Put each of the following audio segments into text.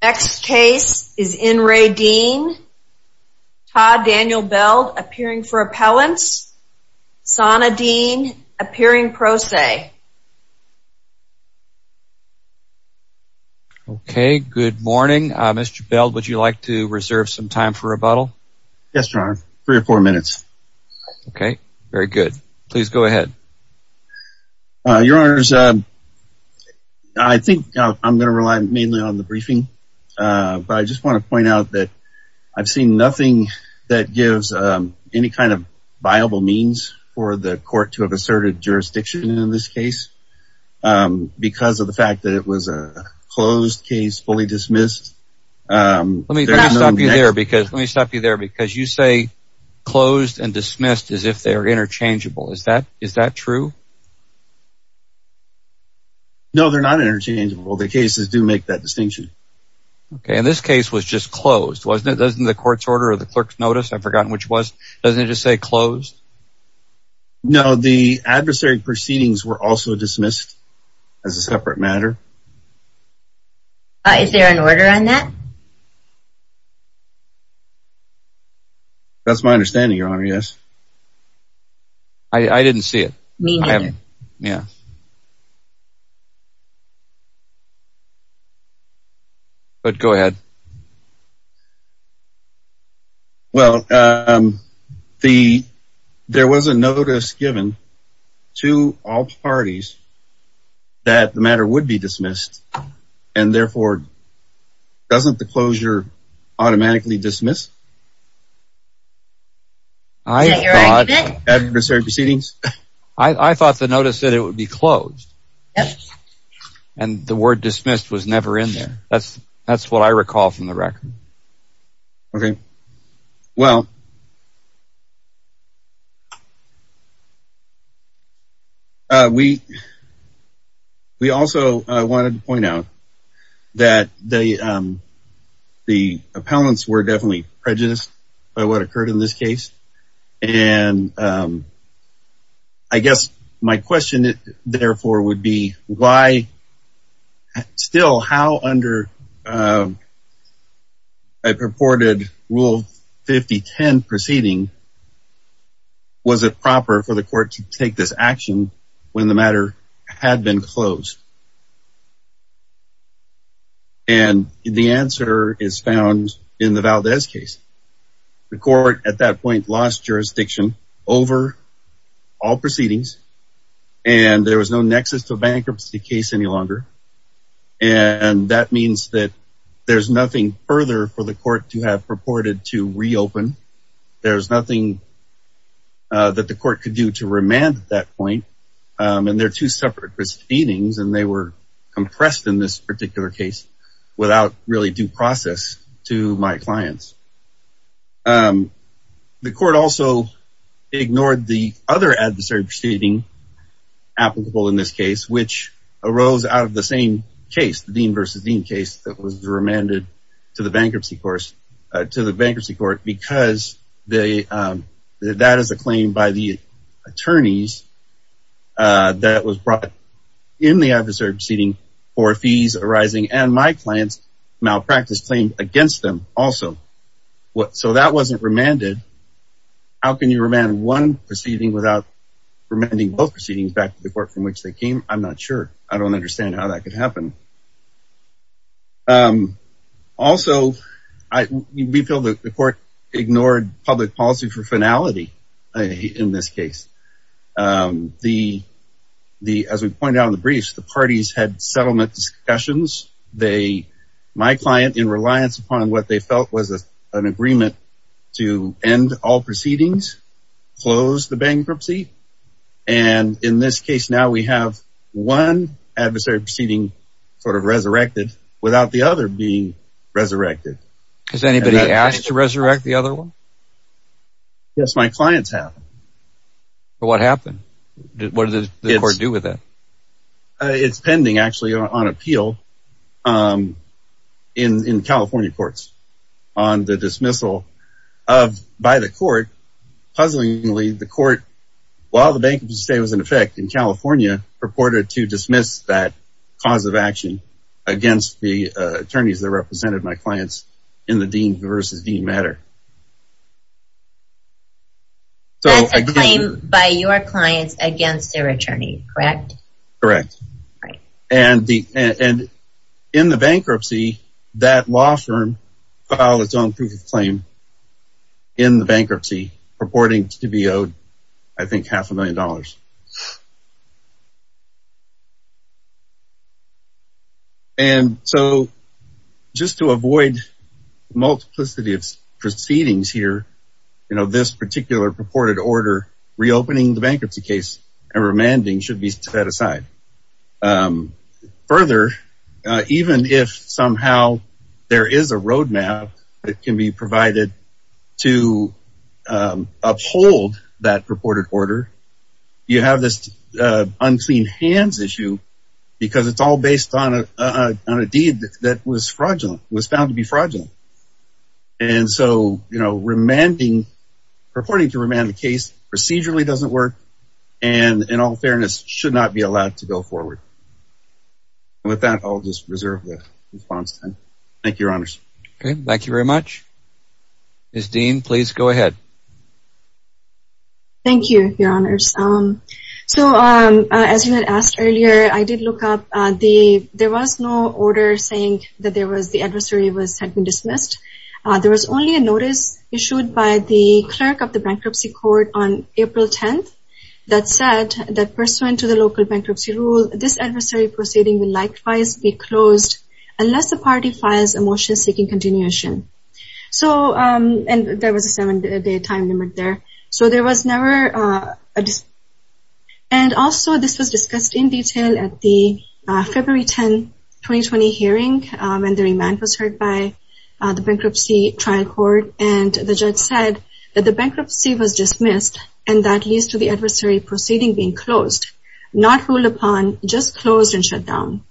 Next case is in re DEEN Todd Daniel Beld appearing for appellants Sana DEEN appearing pro se okay good morning mr. Beld would you like to reserve some time for rebuttal yes your honor three or four minutes okay very good please go ahead your I'm gonna rely mainly on the briefing but I just want to point out that I've seen nothing that gives any kind of viable means for the court to have asserted jurisdiction in this case because of the fact that it was a closed case fully dismissed let me stop you there because let me stop you there because you say closed and dismissed as if they are interchangeable is that is no they're not interchangeable the cases do make that distinction okay and this case was just closed wasn't it doesn't the court's order or the clerk's notice I've forgotten which was doesn't it just say closed no the adversary proceedings were also dismissed as a separate matter is there an order on that that's my understanding your honor yes I I didn't see it yeah but go ahead well the there was a notice given to all parties that the matter would be automatically dismissed I thought the notice that it would be closed and the word dismissed was never in there that's that's what I recall from the record okay well we we also wanted to point out that they the appellants were definitely prejudiced by what occurred in this case and I guess my question therefore would be why still how under a purported rule 5010 proceeding was it proper for the court to take this action when the matter had been closed and the answer is found in the Valdez case the court at that point lost jurisdiction over all proceedings and there was no nexus to a bankruptcy case any longer and that means that there's nothing further for the court to have purported to reopen there's nothing that the court could do to remand at that point and they're two separate proceedings and they were compressed in this particular case without really due process to my clients the court also ignored the other adversary proceeding applicable in this case which arose out of the same case the Dean versus Dean case that was remanded to the bankruptcy course to the bankruptcy court because they that is a claim by the attorneys that was brought in the adversary proceeding for fees arising and my clients malpractice claim against them also what so that wasn't remanded how can you remand one proceeding without remanding both proceedings back to the court from which they came I'm not sure I don't understand how that could happen also I feel that the court ignored public policy for finality in this case the the as we pointed out in the briefs the parties had settlement discussions they my client in reliance upon what they felt was a an agreement to end all proceedings close the bankruptcy and in this case now we have one adversary proceeding sort of resurrected without the other being resurrected has anybody asked to resurrect the other one yes my clients have but what happened what does it do with it it's pending actually on appeal in in California courts on the dismissal of by the court puzzlingly the court while the bank to stay was in effect in California purported to dismiss that cause of action against the attorneys that represented my clients in the Dean versus Dean matter so by your clients against their attorney correct correct right and the and in the bankruptcy that law firm filed its own proof of claim in the bankruptcy purporting to be owed I think half a million dollars and so just to avoid multiplicity of proceedings here you know this particular purported order reopening the bankruptcy case and remanding should be set aside further even if somehow there is a roadmap that can be provided to uphold that purported order you have this unclean hands issue because it's all based on a deed that was fraudulent was found to be fraudulent and so you know remanding purporting to remand the case procedurally doesn't work and in all fairness should not be allowed to go forward with that I'll just reserve the response thank your honors okay thank you very much miss Dean please go ahead thank you your honors um so um as you had asked earlier I did look up the there was no order saying that there was the adversary was had been dismissed there was only a notice issued by the clerk of the bankruptcy court on April 10th that said that pursuant to the local bankruptcy rule this adversary proceeding will likewise be closed unless the party files a motion seeking continuation so and there was a seven day time limit there so there was never and also this was discussed in detail at the February 10 2020 hearing when the remand was heard by the bankruptcy trial court and the judge said that the bankruptcy was dismissed and that leads to the upon just closed and shut down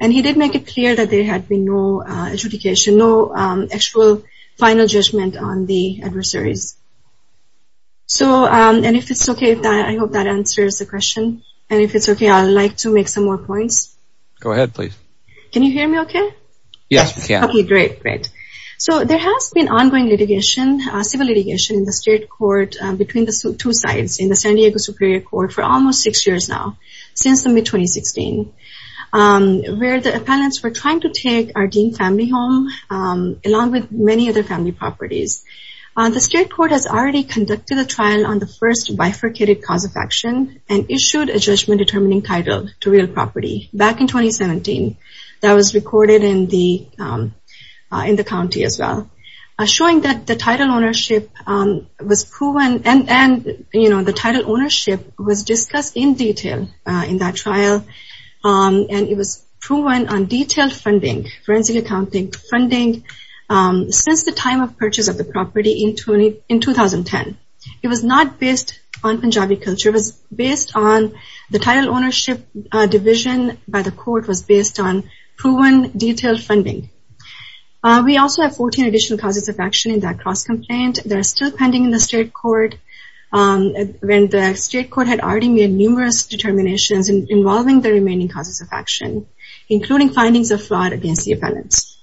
and he did make it clear that there had been no adjudication no actual final judgment on the adversaries so and if it's okay if that I hope that answers the question and if it's okay I'd like to make some more points go ahead please can you hear me okay yes okay great great so there has been ongoing litigation civil litigation in the state court between the two sides in the San Diego Superior Court for almost six years now since the mid-2016 where the appellants were trying to take our Dean family home along with many other family properties the state court has already conducted a trial on the first bifurcated cause of action and issued a judgment determining title to real property back in 2017 that was recorded in the in the county as well showing that the title ownership was proven and and you know the title ownership was discussed in detail in that trial and it was proven on detailed funding forensic accounting funding since the time of purchase of the property in 20 in 2010 it was not based on Punjabi culture was based on the title ownership division by the court was based on proven detailed funding we also have 14 additional causes of action in that cross complaint they're still pending in the state court when the state court had already made numerous determinations involving the remaining causes of action including findings of fraud against the appellants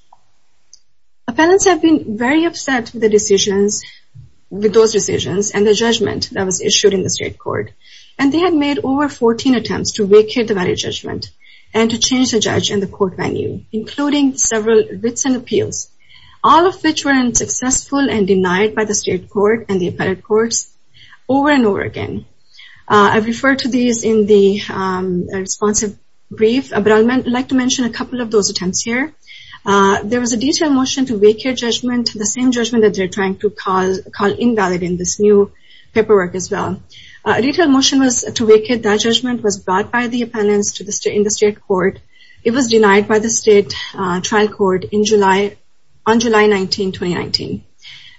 appellants have been very upset with the decisions with those decisions and the judgment that was issued in the state court and they had made over 14 attempts to vacate the value judgment and to change the judge and the court venue including several writs and appeals all of which were unsuccessful and denied by the state court and the appellate courts over and over again I've referred to these in the responsive brief but I'd like to mention a couple of those attempts here there was a detailed motion to vacate judgment the same judgment that they're trying to call invalid in this new paperwork as well a detailed motion was to vacate that judgment was brought by the appellants in the state court it was denied by the state trial court in July on July 19 2019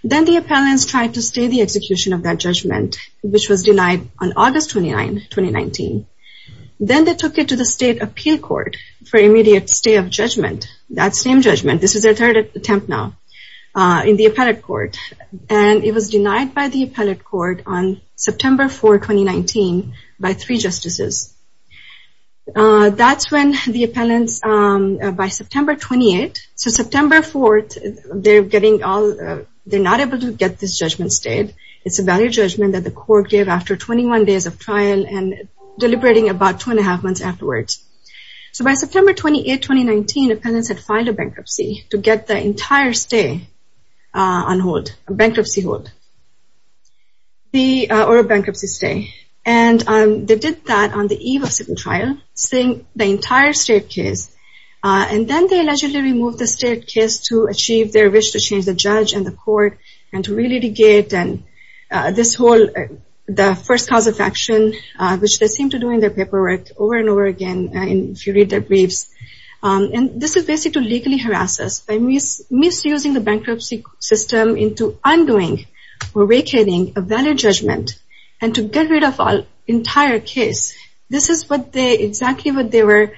then the appellants tried to stay the execution of that judgment which was denied on August 29 2019 then they took it to the state appeal court for immediate stay of judgment that same judgment this is their third attempt now in the appellate court and it was denied by the appellate court on September 4 2019 by three justices that's when the appellants by September 28 so September 4th they're getting all they're not able to get this judgment stayed it's a value judgment that the court gave after 21 days of trial and deliberating about two and a half months afterwards so by September 28 2019 appellants had filed a bankruptcy to get the entire stay on hold a bankruptcy hold the or a bankruptcy stay and they did that on the eve of civil trial saying the entire state case and then they allegedly removed the state case to achieve their wish to change the judge and the court and to re-litigate and this whole the first cause of action which they seem to do in their paperwork over and over again and if you read their briefs and this is basically to legally harass us by misusing the bankruptcy system into undoing or vacating a valid judgment and to get rid of our entire case this is what they exactly what they were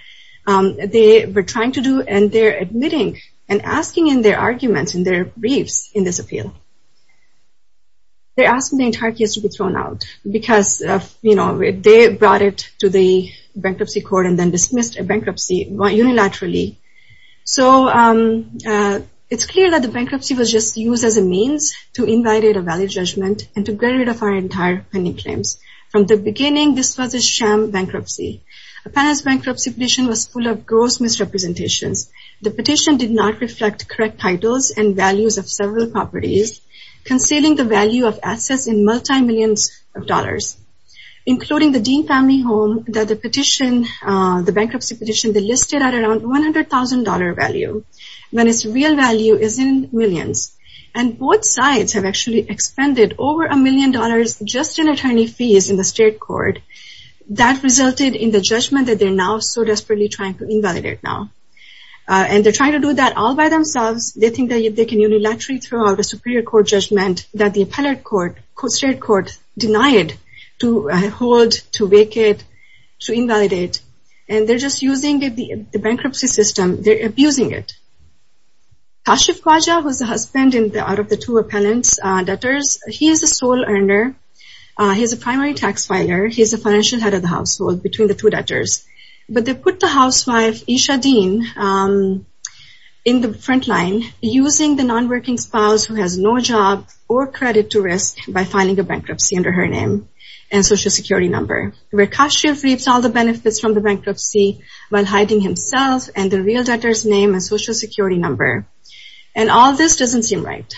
they were trying to do and they're admitting and asking in their arguments in their briefs in this appeal they're asking the entire case to be thrown out because you know they brought it to the bankruptcy court and then dismissed a bankruptcy unilaterally so it's clear that the bankruptcy was just used as a means to From the beginning this was a sham bankruptcy. Appellant's bankruptcy petition was full of gross misrepresentations. The petition did not reflect correct titles and values of several properties concealing the value of assets in multi millions of dollars including the Dean family home that the petition the bankruptcy petition they listed at around $100,000 value when its real value is in millions and both sides have actually expended over a million dollars just in attorney fees in the state court that resulted in the judgment that they're now so desperately trying to invalidate now and they're trying to do that all by themselves they think that they can unilaterally throw out a superior court judgment that the appellate court, state court denied to hold, to vacate, to invalidate and they're just using the bankruptcy system, they're abusing it. Kashif Khawaja was the two appellant's debtors. He is the sole earner, he's a primary tax filer, he's the financial head of the household between the two debtors but they put the housewife Isha Dean in the front line using the non-working spouse who has no job or credit to risk by filing a bankruptcy under her name and social security number where Kashif reaps all the benefits from the bankruptcy while hiding himself and the real debtors name and social security number and all this doesn't seem right.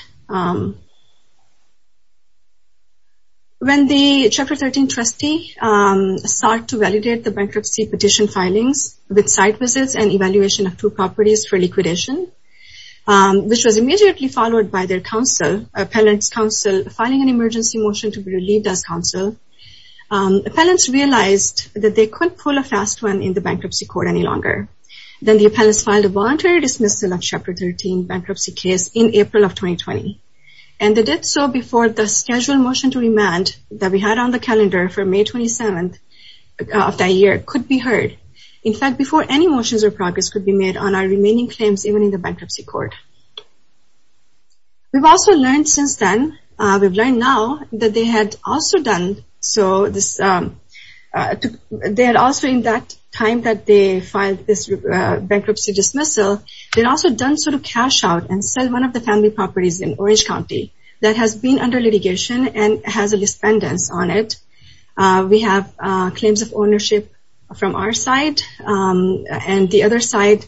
When the Chapter 13 trustee sought to validate the bankruptcy petition filings with site visits and evaluation of two properties for liquidation which was immediately followed by their counsel, appellant's counsel, filing an emergency motion to be relieved as counsel. Appellants realized that they couldn't pull a fast one in the bankruptcy court any longer. Then the April of 2020 and they did so before the scheduled motion to remand that we had on the calendar for May 27th of that year could be heard. In fact before any motions or progress could be made on our remaining claims even in the bankruptcy court. We've also learned since then, we've learned now that they had also done so this, they had also in that time that they filed this bankruptcy dismissal, they'd also done so to cash out and sell one of the family properties in Orange County that has been under litigation and has a dispendence on it. We have claims of ownership from our side and the other side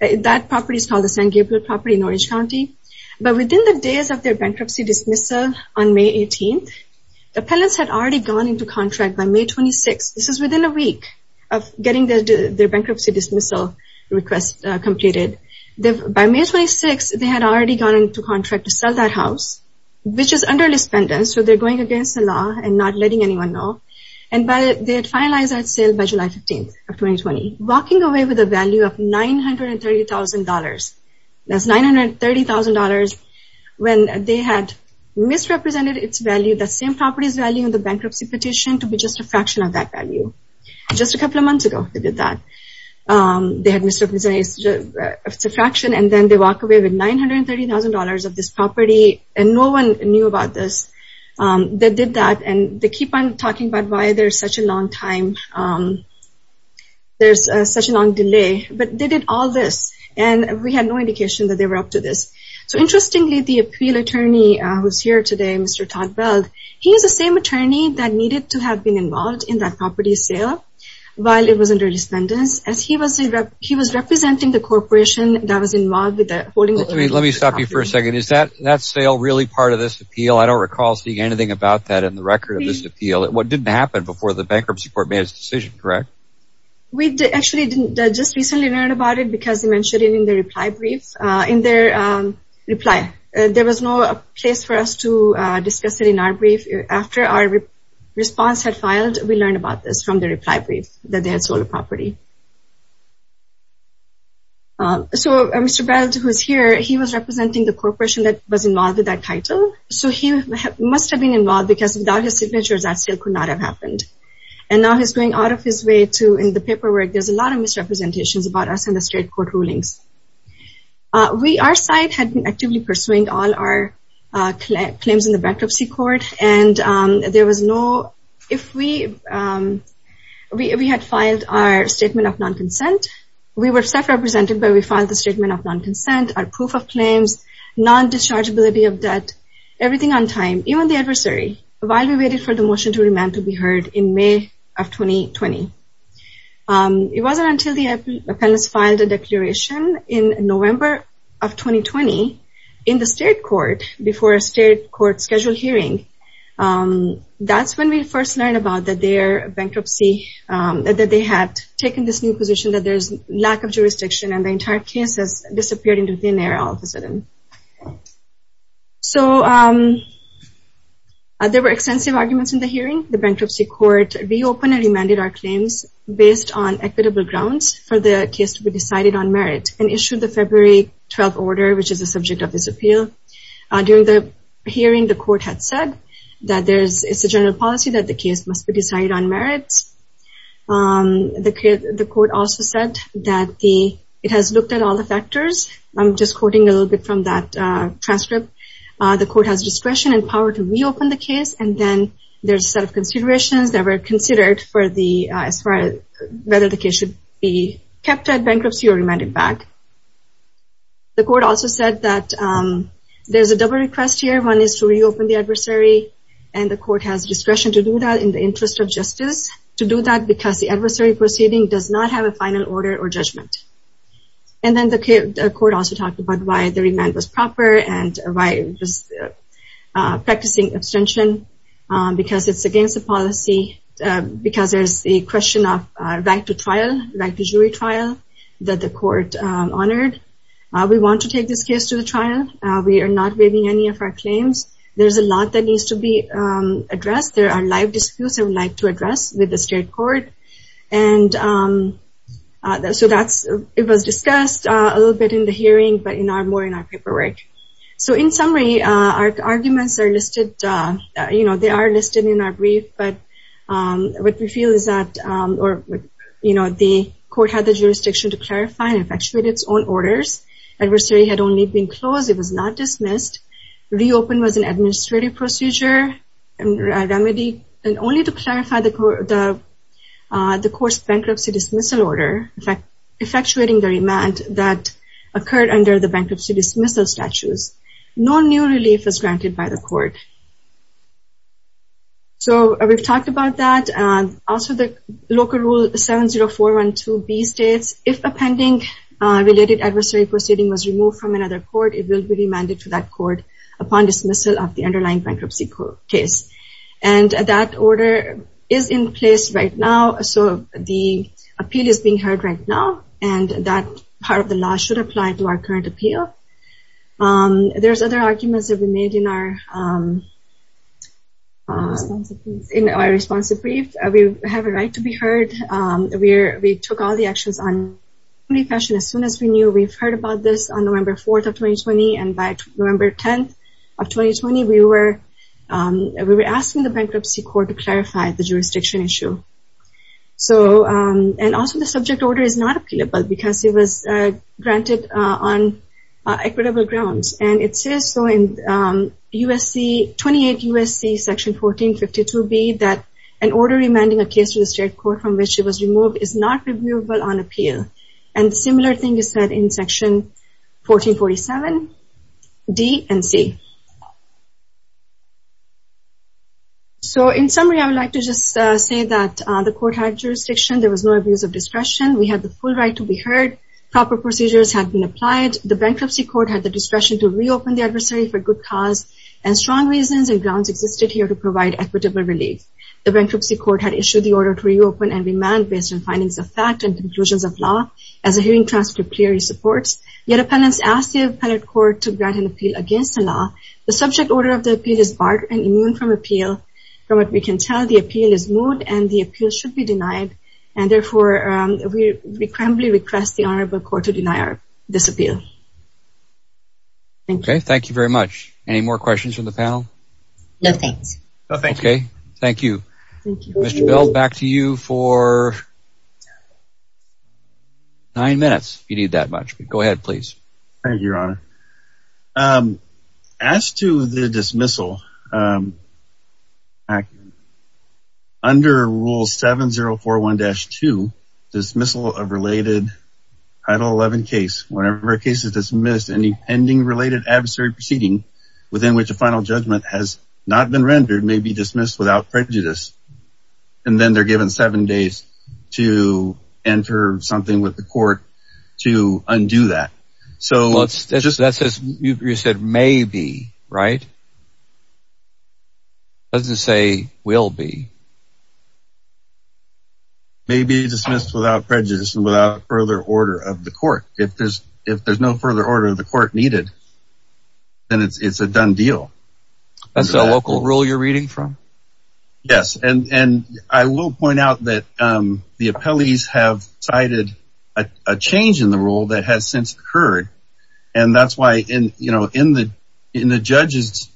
that property is called the San Gabriel property in Orange County. But within the days of their bankruptcy dismissal on May 18th, the appellants had already gone into contract by May 26. This is within a week of getting their bankruptcy dismissal request completed. By May 26, they had already gone into contract to sell that house, which is under dispendence. So they're going against the law and not letting anyone know. And by they had finalized that sale by July 15th of 2020, walking away with a value of $930,000. That's $930,000 when they had misrepresented its value, that same property's value in the bankruptcy petition to be just a fraction of that value. Just a couple of months ago, they did that. They had misrepresented a fraction and then they walk away with $930,000 of this property and no one knew about this. They did that and they keep on talking about why there's such a long time. There's such a long delay, but they did all this and we had no indication that they were up to this. So interestingly, the appeal attorney who's here today, Mr. Todd Weld, he's the same attorney that needed to have been involved in that property sale while it was under dispendence. He was representing the corporation that was involved with that. Let me stop you for a second. Is that sale really part of this appeal? I don't recall seeing anything about that in the record of this appeal. What didn't happen before the bankruptcy court made its decision, correct? We actually didn't just recently learn about it because they mentioned it in their reply brief. There was no place for us to discuss it in our brief. After our response had filed, we learned about this from the reply brief that they had made to the property. So Mr. Weld, who's here, he was representing the corporation that was involved with that title. So he must have been involved because without his signature, that sale could not have happened. And now he's going out of his way to, in the paperwork, there's a lot of misrepresentations about us in the state court rulings. Our side had been actively pursuing all our claims in the bankruptcy court. And there was no, if we had filed our statement of non-consent, we were self-represented, but we filed the statement of non-consent, our proof of claims, non- dischargeability of debt, everything on time, even the adversary, while we waited for the motion to remand to be heard in May of 2020. It wasn't until the appellants filed a declaration in November of 2020 in the state court before a state court scheduled hearing. That's when we first learned about that their bankruptcy, that they had taken this new position that there's lack of jurisdiction and the entire case has disappeared into thin air all of a sudden. So there were extensive arguments in the hearing. The bankruptcy court reopened and remanded our claims based on equitable grounds for the case to be decided on merit and issued the February 12 order, which is the subject of this appeal. During the hearing, the court had said that there's, it's a general policy that the case must be decided on merits. The court also said that the, it has looked at all the factors. I'm just quoting a little bit from that transcript. The court has discretion and power to reopen the case and then there's a set of considerations that were considered for the, as far as whether the case should be kept at bankruptcy or remanded back. The court also said that there's a double request here. One is to reopen the adversary and the court has discretion to do that in the interest of justice, to do that because the adversary proceeding does not have a final order or judgment. And then the court also talked about why the remand was proper and why it was practicing abstention because it's against the policy because there's the question of right to trial, right to jury trial that the court honored. We want to take this case to the trial. We are not waiving any of our claims. There's a lot that needs to be addressed. There are live disputes I would like to address with the state court. And so that's, it was discussed a little bit in the hearing, but in our, more in our paperwork. So in summary, our arguments are listed, you know, they are listed in our brief, but what we feel is that, or you know, the court had the jurisdiction to clarify and effectuate its own orders. Adversary had only been closed. It was not dismissed. Reopen was an administrative procedure and remedy and only to clarify the court's bankruptcy dismissal order, effectuating the remand that occurred under the bankruptcy dismissal statutes. No new relief was granted by the court. So we've talked about that and also the local rule 70412B states, if a pending related adversary proceeding was removed from another court, it will be remanded to that court upon dismissal of the underlying bankruptcy case. And that order is in place right now. So the appeal is being heard right now and that part of the law should apply to our current appeal. There's other arguments that we made in our response to brief. We have a right to be heard. We took all the actions on recession as soon as we knew. We've heard about this on November 4th of 2020 and by November 10th of 2020, we were asking the bankruptcy court to clarify the jurisdiction issue. So, and also the subject order is not appealable because it was granted on equitable grounds. And it says so in USC, 28 USC section 1452B that an order remanding a case to the bankruptcy court is not applicable on appeal. And the similar thing is said in section 1447D and C. So in summary, I would like to just say that the court had jurisdiction. There was no abuse of discretion. We had the full right to be heard. Proper procedures had been applied. The bankruptcy court had the discretion to reopen the adversary for good cause and strong reasons and grounds existed here to provide equitable relief. The bankruptcy court had issued the order to the conclusions of law as a hearing transcript clearly supports. Yet a panelist asked the appellate court to grant an appeal against the law. The subject order of the appeal is barred and immune from appeal. From what we can tell, the appeal is moot and the appeal should be denied. And therefore, we requiembly request the Honorable Court to deny this appeal. Okay, thank you very much. Any more questions from the panel? No, thanks. Okay, thank you. Mr. Bell, back to you for nine minutes if you need that much. Go ahead, please. Thank you, Your Honor. As to the dismissal, under Rule 7041-2, dismissal of related Title 11 case, whenever a case is dismissed, any pending related adversary proceeding within which a final judgment has not been rendered may be dismissed without prejudice. And then they're given seven days to enter something with the court to undo that. So... Well, that says you said maybe, right? It doesn't say will be. May be dismissed without prejudice and without further order of the court. If there's no further order of the court needed, then it's a done deal. That's a local rule you're reading from? Yes. And I will point out that the appellees have cited a change in the rule that has since occurred. And that's why in the judge's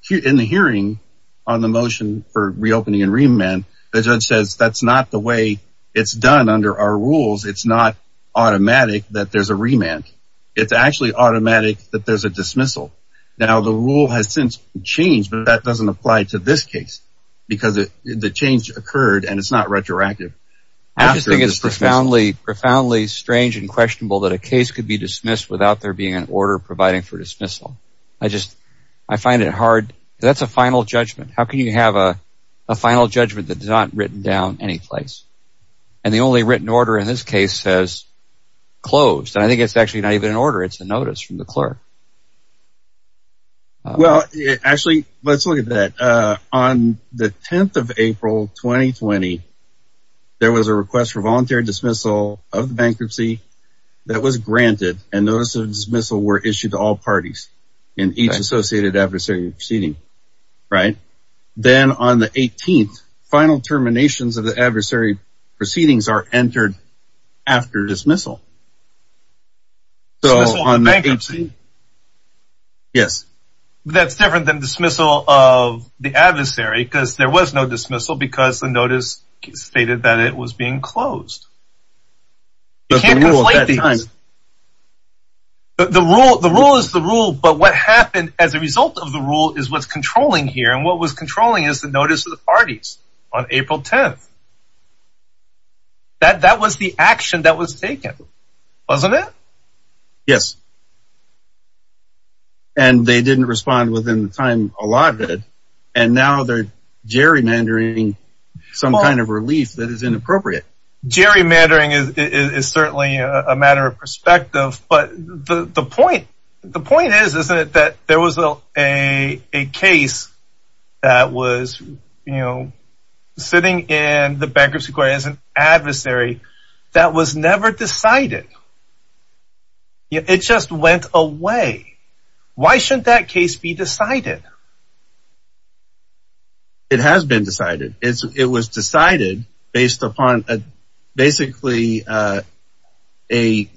hearing on the motion for reopening and remand, the judge says that's not the way it's done under our rules. It's not automatic that there's a remand. It's actually automatic that there's a dismissal. Now, the rule has since changed, but that doesn't apply to this case, because the change occurred and it's not retroactive. I just think it's profoundly, profoundly strange and questionable that a case could be dismissed without there being an order providing for dismissal. I just, I find it hard. That's a final judgment. How can you have a final judgment that's not written down any place? And the only written order in this case says closed. And I think it's actually not even an order. It's a notice from the clerk. Well, actually, let's look at that. On the 10th of April 2020, there was a request for voluntary dismissal of the bankruptcy that was granted and notice of dismissal were issued to all parties in each associated adversary proceeding. Right. Then on the 18th, final terminations of the adversary proceedings are entered after dismissal. So on the 18th, yes, that's different than dismissal of the adversary, because there was no dismissal because the notice stated that it was being closed. But the rule, the rule is the rule. But what happened as a result of the rule is what's controlling here. And what was controlling is the notice of the parties on April 10th. That that was the action that was taken, wasn't it? Yes. And they didn't respond within the time allotted. And now they're gerrymandering some kind of relief that is inappropriate. Gerrymandering is certainly a matter of perspective. But the point the point is, isn't it that there was a case that was, you know, sitting in the bankruptcy court as an adversary that was never decided. It just went away. Why shouldn't that case be decided? It has been decided it was decided based upon basically a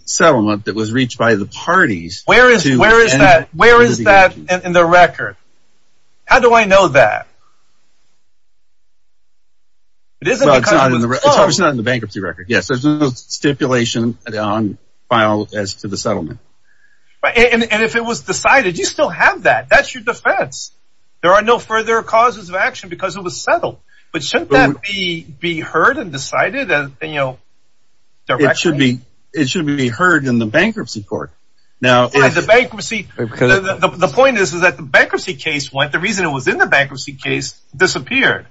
settlement that was reached by the parties. Where is where is that? Where is that in the record? How do I know that? It is not in the bankruptcy record. Yes, there's no stipulation on file as to the settlement. And if it was decided, you still have that. That's your defense. There are no further causes of action because it was settled. But shouldn't that be be heard and decided? And, you know, there should be. It should be heard in the bankruptcy court. Now, the bankruptcy. The point is, is that the bankruptcy case disappeared.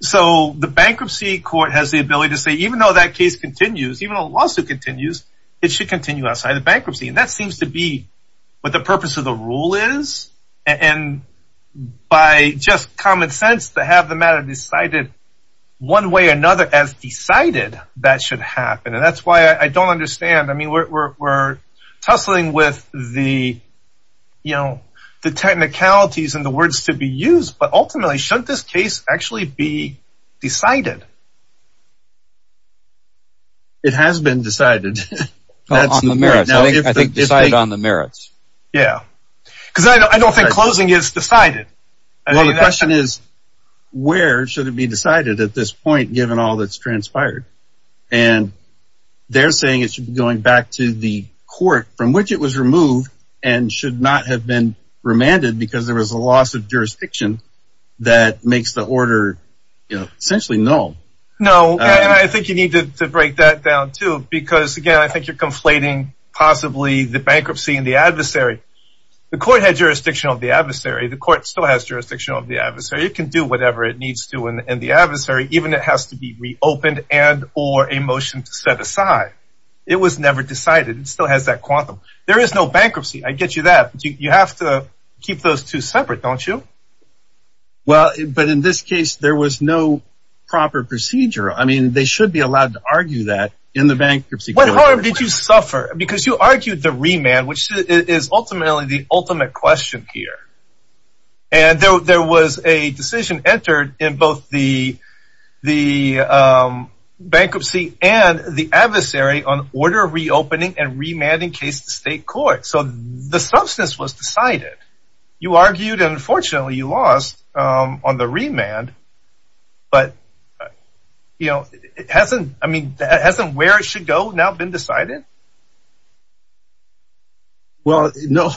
So the bankruptcy court has the ability to say, even though that case continues, even a lawsuit continues, it should continue outside of bankruptcy. And that seems to be what the purpose of the rule is. And by just common sense to have the matter decided one way or another as decided, that should happen. And that's why I don't understand. I mean, we're tussling with the, you know, the technicalities and the words to be used. But ultimately, shouldn't this case actually be decided? It has been decided on the merits. Yeah, because I don't think closing is decided. And the question is, where should it be decided at this point, given all that's it was removed and should not have been remanded because there was a loss of jurisdiction that makes the order, you know, essentially no. No, I think you need to break that down, too. Because, again, I think you're conflating possibly the bankruptcy and the adversary. The court had jurisdiction of the adversary. The court still has jurisdiction of the adversary. It can do whatever it needs to in the adversary, even it has to be reopened and or a It was never decided. It still has that quantum. There is no bankruptcy. I get you that you have to keep those two separate, don't you? Well, but in this case, there was no proper procedure. I mean, they should be allowed to argue that in the bankruptcy. What harm did you suffer? Because you argued the remand, which is ultimately the ultimate question here. And there was a decision entered in both the the adversary on order reopening and remanding case to state court. So the substance was decided. You argued, unfortunately, you lost on the remand. But, you know, it hasn't I mean, hasn't where it should go now been decided? Well, no,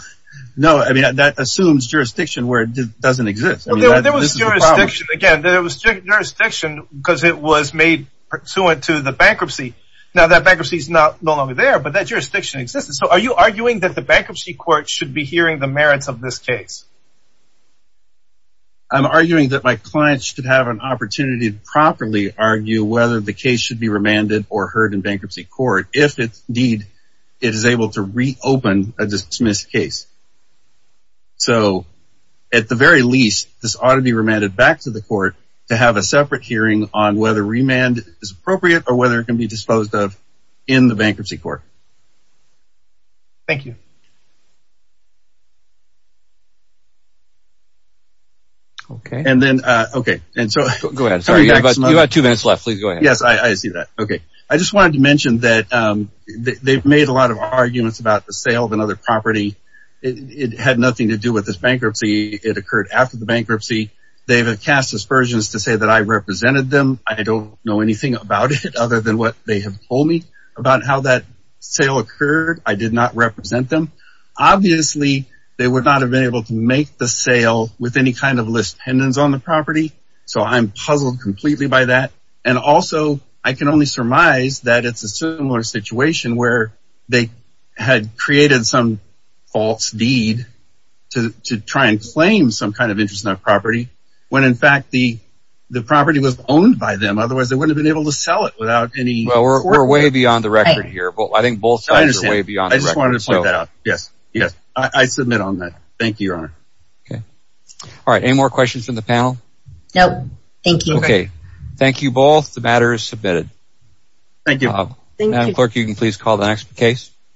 no, I mean, that assumes jurisdiction where it doesn't exist. Again, there was jurisdiction because it was made pursuant to the bankruptcy. Now that bankruptcy is not no longer there, but that jurisdiction exists. So are you arguing that the bankruptcy court should be hearing the merits of this case? I'm arguing that my clients should have an opportunity to properly argue whether the case should be remanded or heard in bankruptcy court if it deed, it is able to reopen a dismissed case. So, at the very least, this ought to be remanded back to the court to have a separate hearing on whether remand is appropriate or whether it can be disposed of in the bankruptcy court. Thank you. OK, and then. OK, and so go ahead. Sorry, but you have two minutes left. Please go ahead. Yes, I see that. OK. I just wanted to mention that they've made a lot of arguments about the sale of another property. It had nothing to do with this bankruptcy. It occurred after the bankruptcy. They've cast aspersions to say that I represented them. I don't know anything about it other than what they have told me about how that sale occurred. I did not represent them. Obviously, they would not have been able to make the sale with any kind of list pendants on the property. So I'm puzzled completely by that. And also, I can only surmise that it's a similar situation where they had created some false deed to try and claim some kind of interest in that property when, in fact, the the property was owned by them. Otherwise, they would have been able to Well, we're way beyond the record here, but I think both sides are way beyond the record. I just wanted to point that out. Yes. Yes. I submit on that. Thank you, Your Honor. OK. All right. Any more questions from the panel? No. Thank you. OK. Thank you both. The matter is submitted. Thank you. Madam Clerk, you can please call the next case.